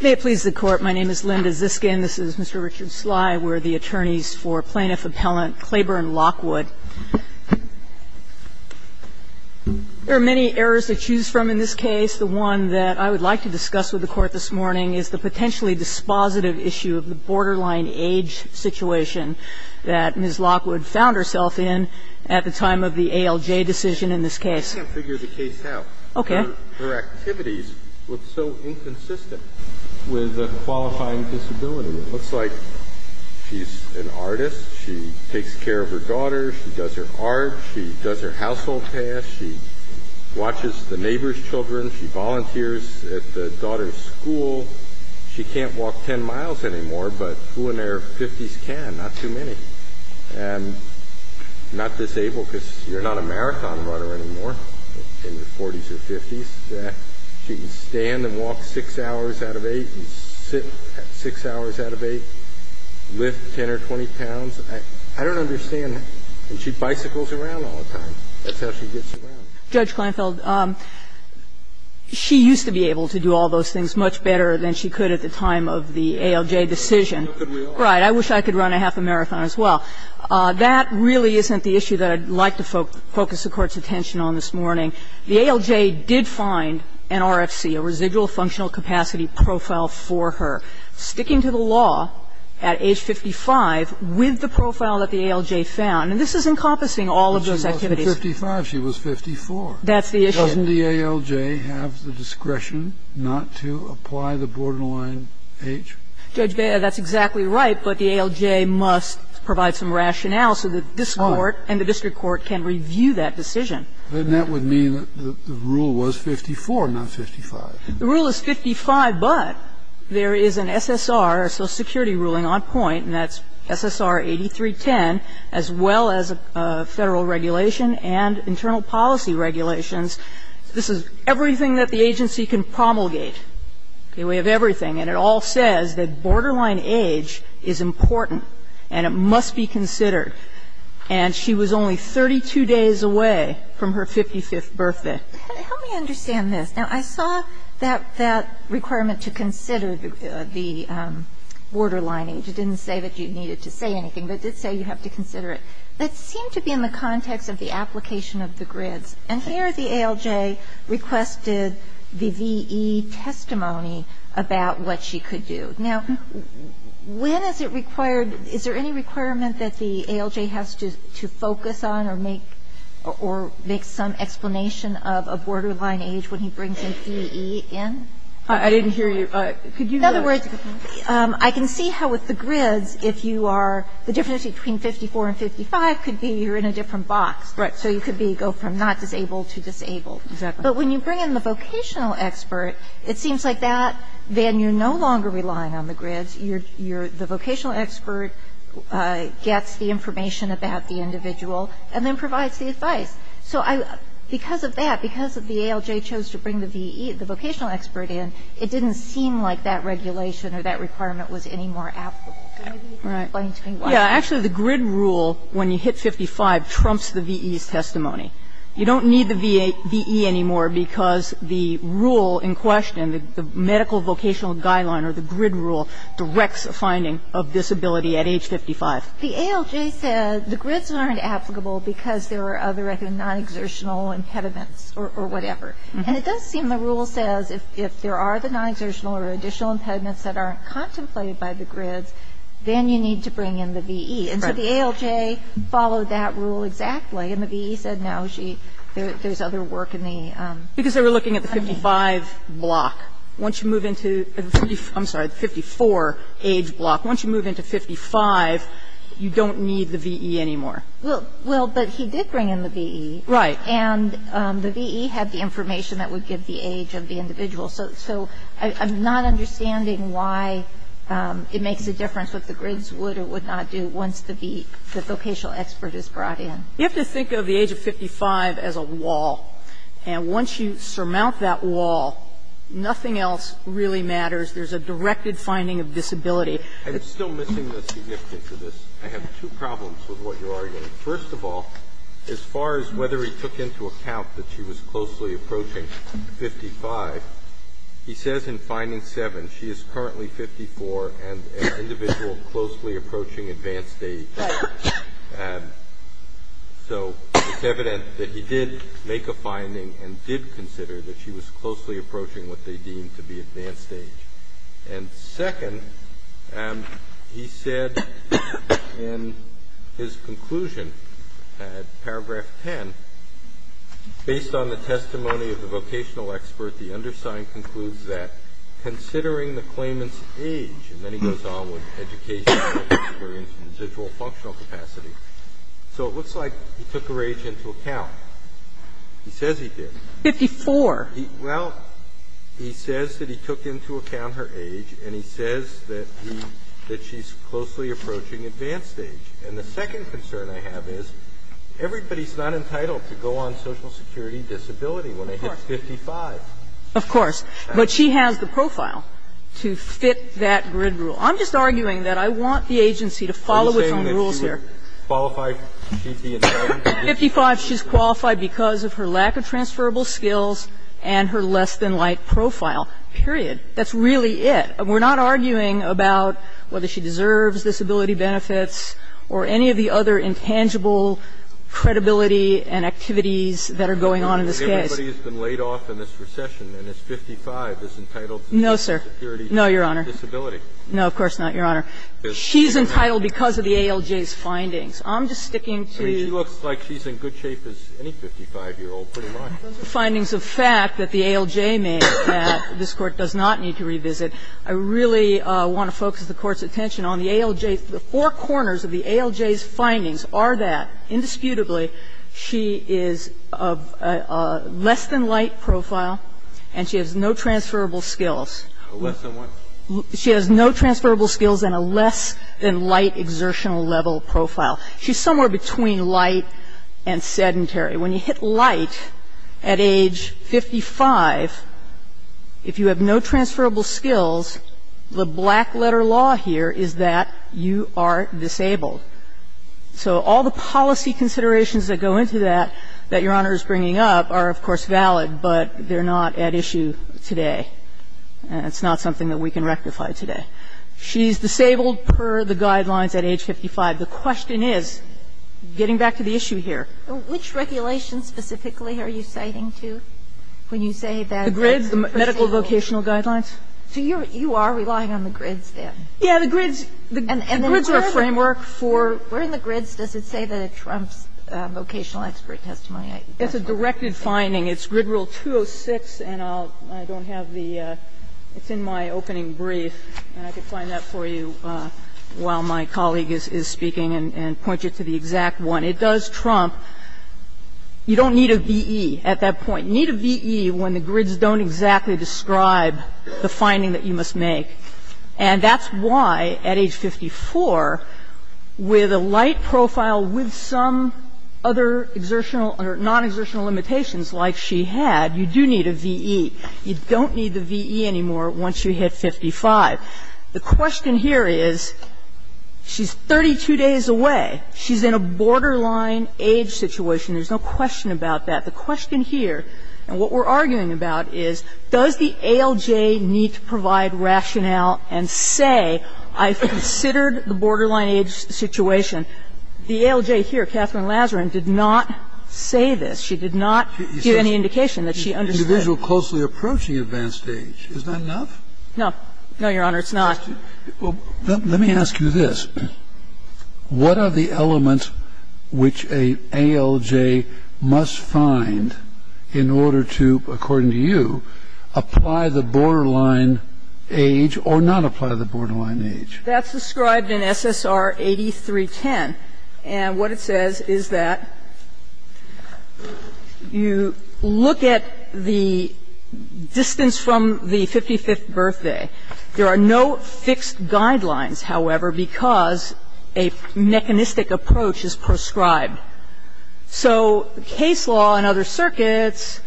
May it please the Court, my name is Linda Ziskin, this is Mr. Richard Sly, we're the attorneys for Plaintiff Appellant Claburn Lockwood. There are many errors to choose from in this case, the one that I would like to discuss with the Court this morning is the potentially dispositive issue of the borderline age situation that Ms. Lockwood found herself in at the time of the ALJ decision in this case. I can't figure the case out. Okay. Her activities look so inconsistent with a qualifying disability. It looks like she's an artist, she takes care of her daughter, she does her art, she does her household tasks, she watches the neighbor's children, she volunteers at the daughter's school. She can't walk 10 miles anymore, but who in their 50s can, not too many. And not disabled because you're not a marathon runner anymore in your 40s or 50s. She can stand and walk 6 hours out of 8 and sit 6 hours out of 8, lift 10 or 20 pounds. I don't understand that. And she bicycles around all the time. That's how she gets around. Judge Kleinfeld, she used to be able to do all those things much better than she could at the time of the ALJ decision. Right. I wish I could run a half a marathon as well. That really isn't the issue that I'd like to focus the Court's attention on this morning. The ALJ did find an RFC, a residual functional capacity profile, for her, sticking to the law at age 55 with the profile that the ALJ found. And this is encompassing all of those activities. She was 55. She was 54. That's the issue. Doesn't the ALJ have the discretion not to apply the borderline age? Judge, that's exactly right, but the ALJ must provide some rationale so that this Court and the district court can review that decision. Then that would mean that the rule was 54, not 55. The rule is 55, but there is an SSR, a social security ruling on point, and that's SSR 8310, as well as Federal regulation and internal policy regulations. This is everything that the agency can promulgate. We have everything. And it all says that borderline age is important and it must be considered. And she was only 32 days away from her 55th birthday. Help me understand this. Now, I saw that requirement to consider the borderline age. It didn't say that you needed to say anything, but it did say you have to consider it. That seemed to be in the context of the application of the grids. And here the ALJ requested the VE testimony about what she could do. Now, when is it required? Is there any requirement that the ALJ has to focus on or make some explanation of a borderline age when he brings in VE in? I didn't hear you. Could you go ahead? I can see how with the grids, if you are the difference between 54 and 55 could be you're in a different box. Right. So you could be go from not disabled to disabled. Exactly. But when you bring in the vocational expert, it seems like that then you're no longer relying on the grids. The vocational expert gets the information about the individual and then provides the advice. So because of that, because the ALJ chose to bring the vocational expert in, it didn't seem like that regulation or that requirement was any more applicable. Right. Can you explain to me why? Yeah, actually the grid rule when you hit 55 trumps the VE's testimony. You don't need the VE anymore because the rule in question, the medical vocational guideline or the grid rule directs a finding of disability at age 55. The ALJ said the grids aren't applicable because there are other non-exertional impediments or whatever. And it does seem the rule says if there are the non-exertional or additional impediments that aren't contemplated by the grids, then you need to bring in the VE. Right. And so the ALJ followed that rule exactly and the VE said no, there's other work in the funding. Because they were looking at the 55 block. Once you move into the 54, I'm sorry, the 54 age block, once you move into 55, you don't need the VE anymore. Well, but he did bring in the VE. Right. And the VE had the information that would give the age of the individual. So I'm not understanding why it makes a difference what the grids would or would not do once the VE, the vocational expert is brought in. You have to think of the age of 55 as a wall. And once you surmount that wall, nothing else really matters. There's a directed finding of disability. I'm still missing the significance of this. I have two problems with what you're arguing. First of all, as far as whether he took into account that she was closely approaching 55, he says in finding 7, she is currently 54 and an individual closely approaching advanced age. So it's evident that he did make a finding and did consider that she was closely approaching what they deemed to be advanced age. And second, and he said in his conclusion at paragraph 10, based on the testimony of the vocational expert, the undersigned concludes that considering the claimant's age, and then he goes on with educational experience and individual functional capacity. So it looks like he took her age into account. He says he did. 54. Well, he says that he took into account her age and he says that she's closely approaching advanced age. And the second concern I have is everybody's not entitled to go on Social Security disability when they hit 55. Of course. But she has the profile to fit that grid rule. I'm just arguing that I want the agency to follow its own rules here. Qualify? 55, she's qualified because of her lack of transferable skills and her less-than-light profile, period. That's really it. We're not arguing about whether she deserves disability benefits or any of the other intangible credibility and activities that are going on in this case. Everybody has been laid off in this recession, and this 55 is entitled to Social Security disability. No, sir. No, Your Honor. No, of course not, Your Honor. She's entitled because of the ALJ's findings. I'm just sticking to the findings of fact that the ALJ made that this Court does not need to revisit. I really want to focus the Court's attention on the ALJ. The four corners of the ALJ's findings are that, indisputably, she is of a less-than-light profile and she has no transferable skills. Less than what? She has no transferable skills and a less-than-light exertional level profile. She's somewhere between light and sedentary. When you hit light at age 55, if you have no transferable skills, the black letter law here is that you are disabled. So all the policy considerations that go into that that Your Honor is bringing up are, of course, valid, but they're not at issue today. It's not something that we can rectify today. She's disabled per the guidelines at age 55. The question is, getting back to the issue here. Which regulations specifically are you citing to when you say that a person is disabled? The GRIDS, the medical vocational guidelines. So you are relying on the GRIDS, then? Yeah, the GRIDS. The GRIDS are a framework for the GRIDS. Where in the GRIDS does it say that it trumps vocational expert testimony? It's a directed finding. It's GRID Rule 206, and I don't have the ‑‑ it's in my opening brief, and I can find that for you while my colleague is speaking and point you to the exact one. It does trump ‑‑ you don't need a VE at that point. You need a VE when the GRIDS don't exactly describe the finding that you must make. And that's why, at age 54, with a light profile with some other exertional or non-exertional limitations like she had, you do need a VE. You don't need the VE anymore once you hit 55. The question here is, she's 32 days away. She's in a borderline age situation. There's no question about that. The question here, and what we're arguing about, is does the ALJ need to provide rationale and say, I've considered the borderline age situation. The ALJ here, Catherine Lazarin, did not say this. She did not give any indication that she understood. Kennedy. She's an individual closely approaching advanced age. Is that enough? No. No, Your Honor, it's not. Well, let me ask you this. What are the elements which an ALJ must find in order to, according to you, apply the borderline age or not apply the borderline age? That's described in SSR 8310. And what it says is that you look at the distance from the 55th birthday. There are no fixed guidelines, however, because a mechanistic approach is prescribed. So case law and other circuits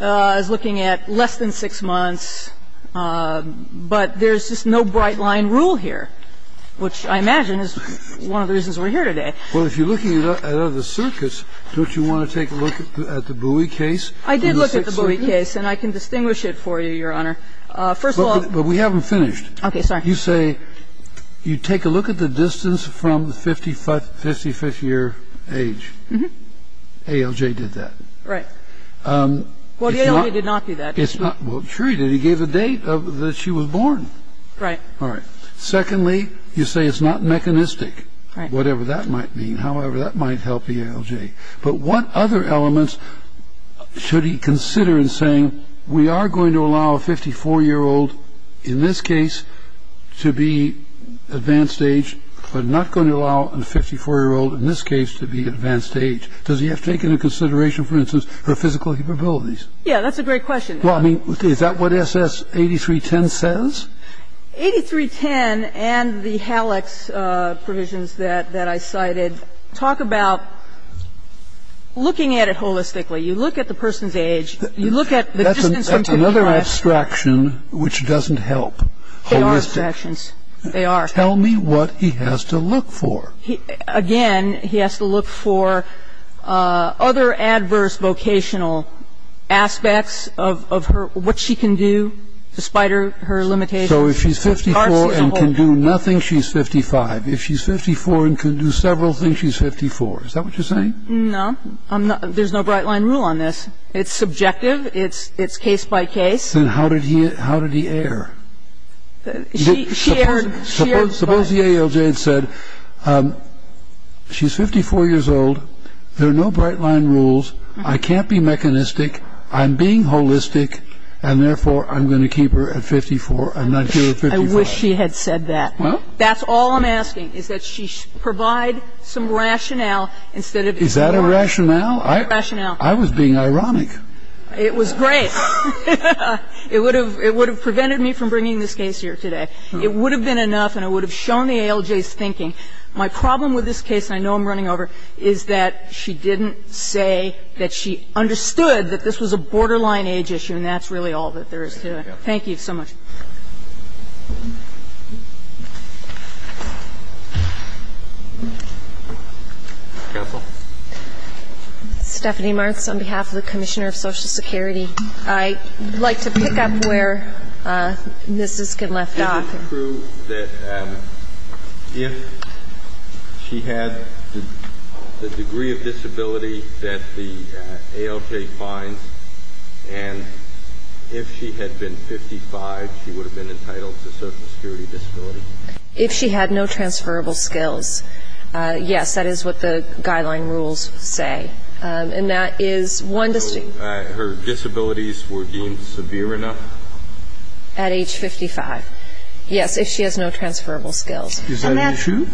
is looking at less than 6 months, but there's just no bright-line rule here, which I imagine is one of the reasons we're here today. Well, if you're looking at other circuits, don't you want to take a look at the Bowie case? I did look at the Bowie case, and I can distinguish it for you, Your Honor. First of all, But we haven't finished. Okay. Sorry. You say you take a look at the distance from the 55th year age. ALJ did that. Right. Well, the ALJ did not do that. Well, sure he did. He gave the date that she was born. Right. All right. Secondly, you say it's not mechanistic, whatever that might mean. However, that might help the ALJ. But what other elements should he consider in saying we are going to allow a 54-year-old, in this case, to be advanced age, but not going to allow a 54-year-old, in this case, to be advanced age? Does he have to take into consideration, for instance, her physical capabilities? Yeah, that's a great question. Well, I mean, is that what S.S. 8310 says? 8310 and the HALEX provisions that I cited talk about looking at it holistically. You look at the person's age. You look at the distance from 55. That's another abstraction which doesn't help. They are abstractions. They are. Tell me what he has to look for. Again, he has to look for other adverse vocational aspects of her, what she can do, despite her limitations. So if she's 54 and can do nothing, she's 55. If she's 54 and can do several things, she's 54. Is that what you're saying? No. There's no bright-line rule on this. It's subjective. It's case by case. Then how did he err? Suppose the ALJ had said she's 54 years old, there are no bright-line rules, I can't be mechanistic, I'm being holistic, and, therefore, I'm going to keep her at 54. I'm not here at 54. I wish she had said that. Well? That's all I'm asking, is that she provide some rationale instead of... Is that a rationale? Rationale. I was being ironic. It was great. It would have prevented me from bringing this case here today. It would have been enough, and it would have shown the ALJ's thinking. My problem with this case, and I know I'm running over, is that she didn't say that she understood that this was a borderline age issue, and that's really all that there is to it. Thank you so much. Counsel? Stephanie Martz, on behalf of the Commissioner of Social Security. I'd like to pick up where Ms. Isken left off. Can you prove that if she had the degree of disability that the ALJ finds, and if she had been 55, she would have been entitled to social security disability? If she had no transferable skills, yes, that is what the guideline rules say. And that is one distinct... So her disabilities were deemed severe enough? At age 55, yes, if she has no transferable skills. Is that an issue?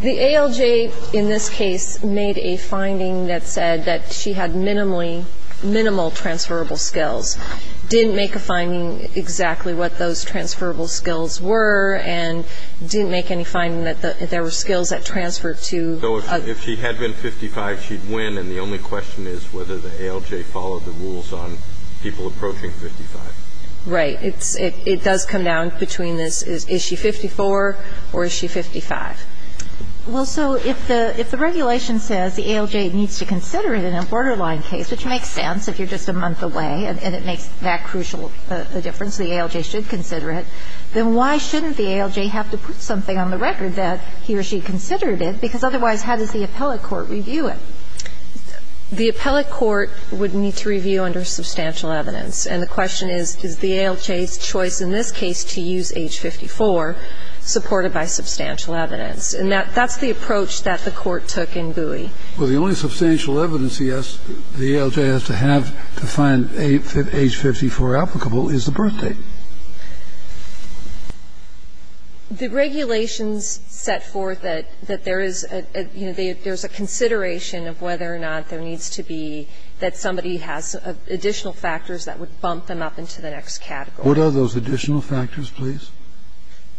The ALJ in this case made a finding that said that she had minimal transferable skills, didn't make a finding exactly what those transferable skills were, and didn't make any finding that there were skills that transferred to... So if she had been 55, she'd win, and the only question is whether the ALJ followed the rules on people approaching 55. Right. It does come down between this, is she 54 or is she 55? Well, so if the regulation says the ALJ needs to consider it in a borderline case, which makes sense if you're just a month away and it makes that crucial a difference, the ALJ should consider it, then why shouldn't the ALJ have to put something on the record that he or she considered it? Because otherwise, how does the appellate court review it? The appellate court would need to review under substantial evidence. And the question is, is the ALJ's choice in this case to use age 54 supported by substantial evidence? And that's the approach that the court took in Bowie. Well, the only substantial evidence the ALJ has to have to find age 54 applicable is the birth date. The regulations set forth that there is a consideration of whether or not there needs to be, that somebody has additional factors that would bump them up into the next category. What are those additional factors, please?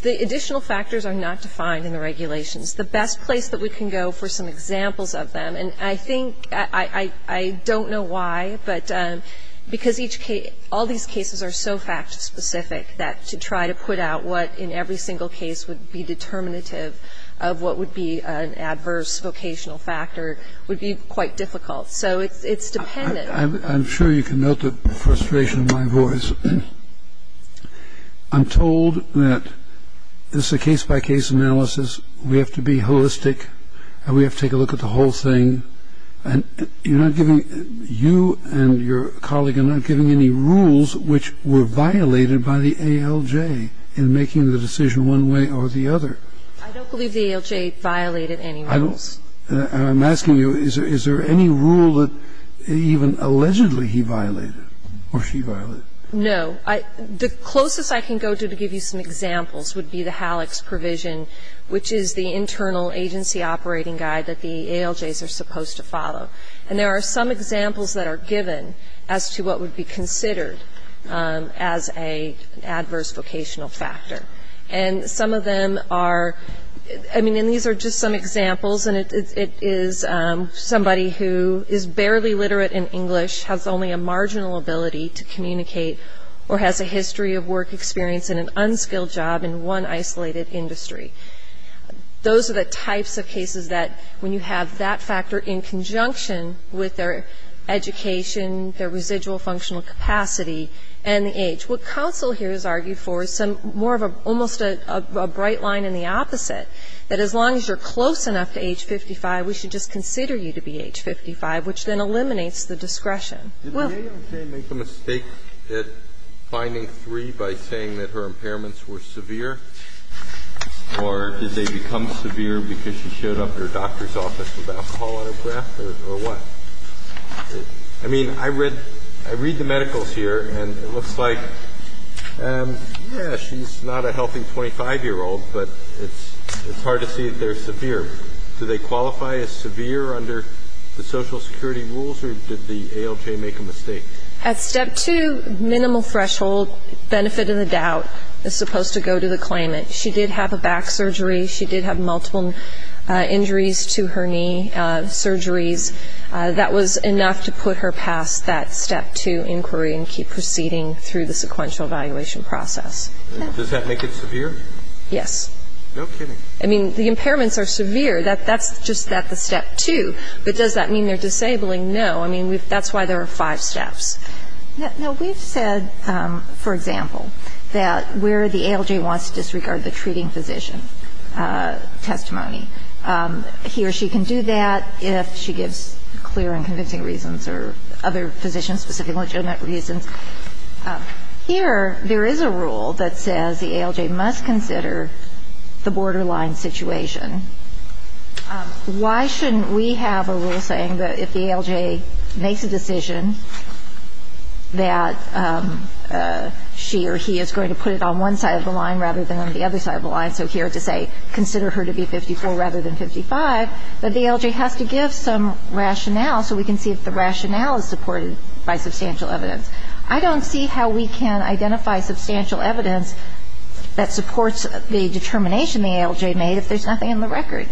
The additional factors are not defined in the regulations. The best place that we can go for some examples of them, and I think, I don't know why, but because each case, all these cases are so fact-specific that to try to put out what in every single case would be determinative of what would be an adverse vocational factor would be quite difficult. So it's dependent. I'm sure you can note the frustration of my voice. I'm told that this is a case-by-case analysis. We have to be holistic and we have to take a look at the whole thing. And you're not giving, you and your colleague are not giving any rules which were violated by the ALJ in making the decision one way or the other. I don't believe the ALJ violated any rules. And I'm asking you, is there any rule that even allegedly he violated or she violated? No. The closest I can go to to give you some examples would be the HALEX provision, which is the internal agency operating guide that the ALJs are supposed to follow. And there are some examples that are given as to what would be considered as an adverse vocational factor. And some of them are, I mean, and these are just some examples, and it is somebody who is barely literate in English, has only a marginal ability to communicate, or has a history of work experience in an unskilled job in one isolated industry. Those are the types of cases that when you have that factor in conjunction with their education, their residual functional capacity, and the age. What counsel here has argued for is some more of a, almost a bright line in the opposite, that as long as you're close enough to age 55, we should just consider you to be age 55, which then eliminates the discretion. Did the ALJ make a mistake at finding three by saying that her impairments were severe, or did they become severe because she showed up at her doctor's office with alcohol on her breath, or what? I mean, I read the medicals here, and it looks like, yeah, she's not a healthy 25-year-old, but it's hard to see that they're severe. Do they qualify as severe under the Social Security rules, or did the ALJ make a mistake? At step two, minimal threshold, benefit of the doubt, is supposed to go to the claimant. She did have a back surgery. She did have multiple injuries to her knee, surgeries. That was enough to put her past that step two inquiry and keep proceeding through the sequential evaluation process. Does that make it severe? Yes. No kidding. I mean, the impairments are severe. That's just at the step two. But does that mean they're disabling? No. I mean, that's why there are five steps. No, we've said, for example, that where the ALJ wants to disregard the treating of the patient, the ALJ must consider the borderline situation. Why shouldn't we have a rule saying that if the ALJ makes a decision that she or he is going to put it on one side of the line rather than on the other side of the line, so here to say consider her to be 54 rather than 55, that the ALJ has to give some rationale so we can see if the rationale is supported by substantial evidence. I don't see how we can identify substantial evidence that supports the determination the ALJ made if there's nothing in the record.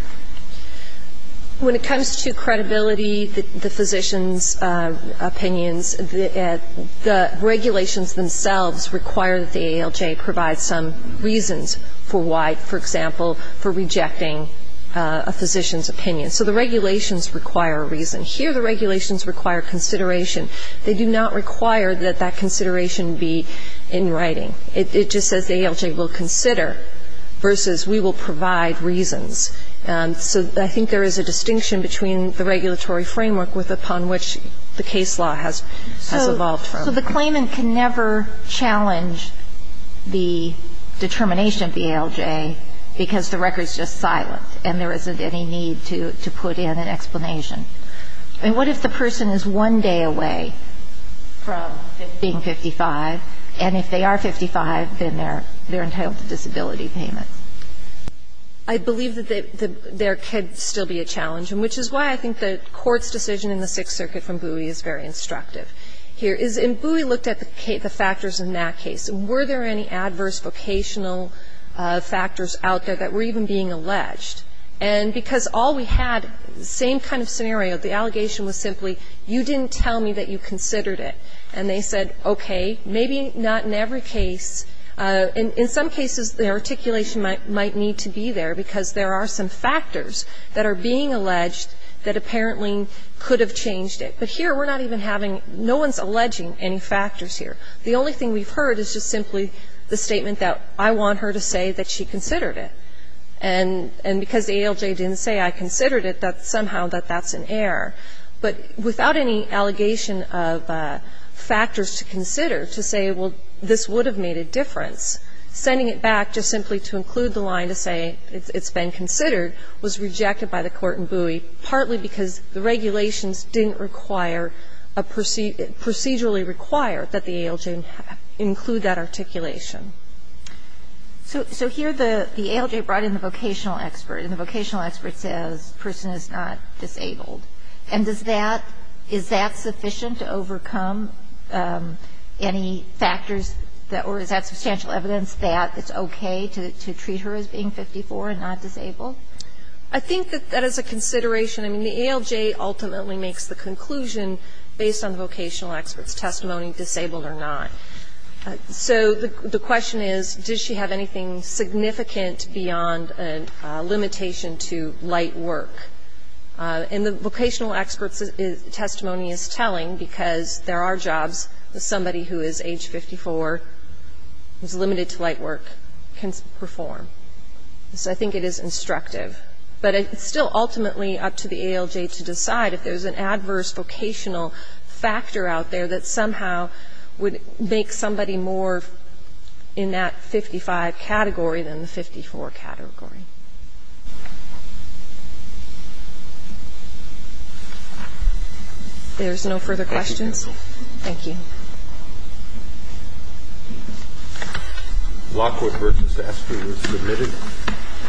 When it comes to credibility, the physician's opinions, the regulations themselves require that the ALJ provide some reasons for why, for example, for rejecting a physician's opinion. So the regulations require a reason. Here the regulations require consideration. They do not require that that consideration be in writing. It just says the ALJ will consider versus we will provide reasons. So I think there is a distinction between the regulatory framework upon which the case law has evolved from. So the claimant can never challenge the determination of the ALJ because the record is just silent and there isn't any need to put in an explanation. I mean, what if the person is one day away from being 55, and if they are 55, then they're entitled to disability payment? I believe that there could still be a challenge, which is why I think the Court's decision in the Sixth Circuit from Bowie is very instructive. Here is, and Bowie looked at the factors in that case. Were there any adverse vocational factors out there that were even being alleged? And because all we had, same kind of scenario. The allegation was simply, you didn't tell me that you considered it. And they said, okay, maybe not in every case. In some cases, the articulation might need to be there because there are some factors that are being alleged that apparently could have changed it. But here we're not even having, no one's alleging any factors here. The only thing we've heard is just simply the statement that I want her to say that she considered it. And because the ALJ didn't say I considered it, somehow that that's an error. But without any allegation of factors to consider to say, well, this would have made a difference, sending it back just simply to include the line to say it's been considered was rejected by the court in Bowie, partly because the regulations didn't require a procedure, procedurally require that the ALJ include that articulation. So here the ALJ brought in the vocational expert, and the vocational expert says the person is not disabled. And does that, is that sufficient to overcome any factors, or is that substantial evidence that it's okay to treat her as being 54 and not disabled? I think that that is a consideration. I mean, the ALJ ultimately makes the conclusion based on vocational expert's testimony, disabled or not. So the question is, does she have anything significant beyond a limitation to light work? And the vocational expert's testimony is telling, because there are jobs that somebody who is age 54, who is limited to light work, can perform. So I think it is instructive. But it's still ultimately up to the ALJ to decide if there's an adverse vocational factor out there that somehow would make somebody more in that 55 category than the 54 category. There's no further questions? Thank you. Thank you. Thank you. Thank you.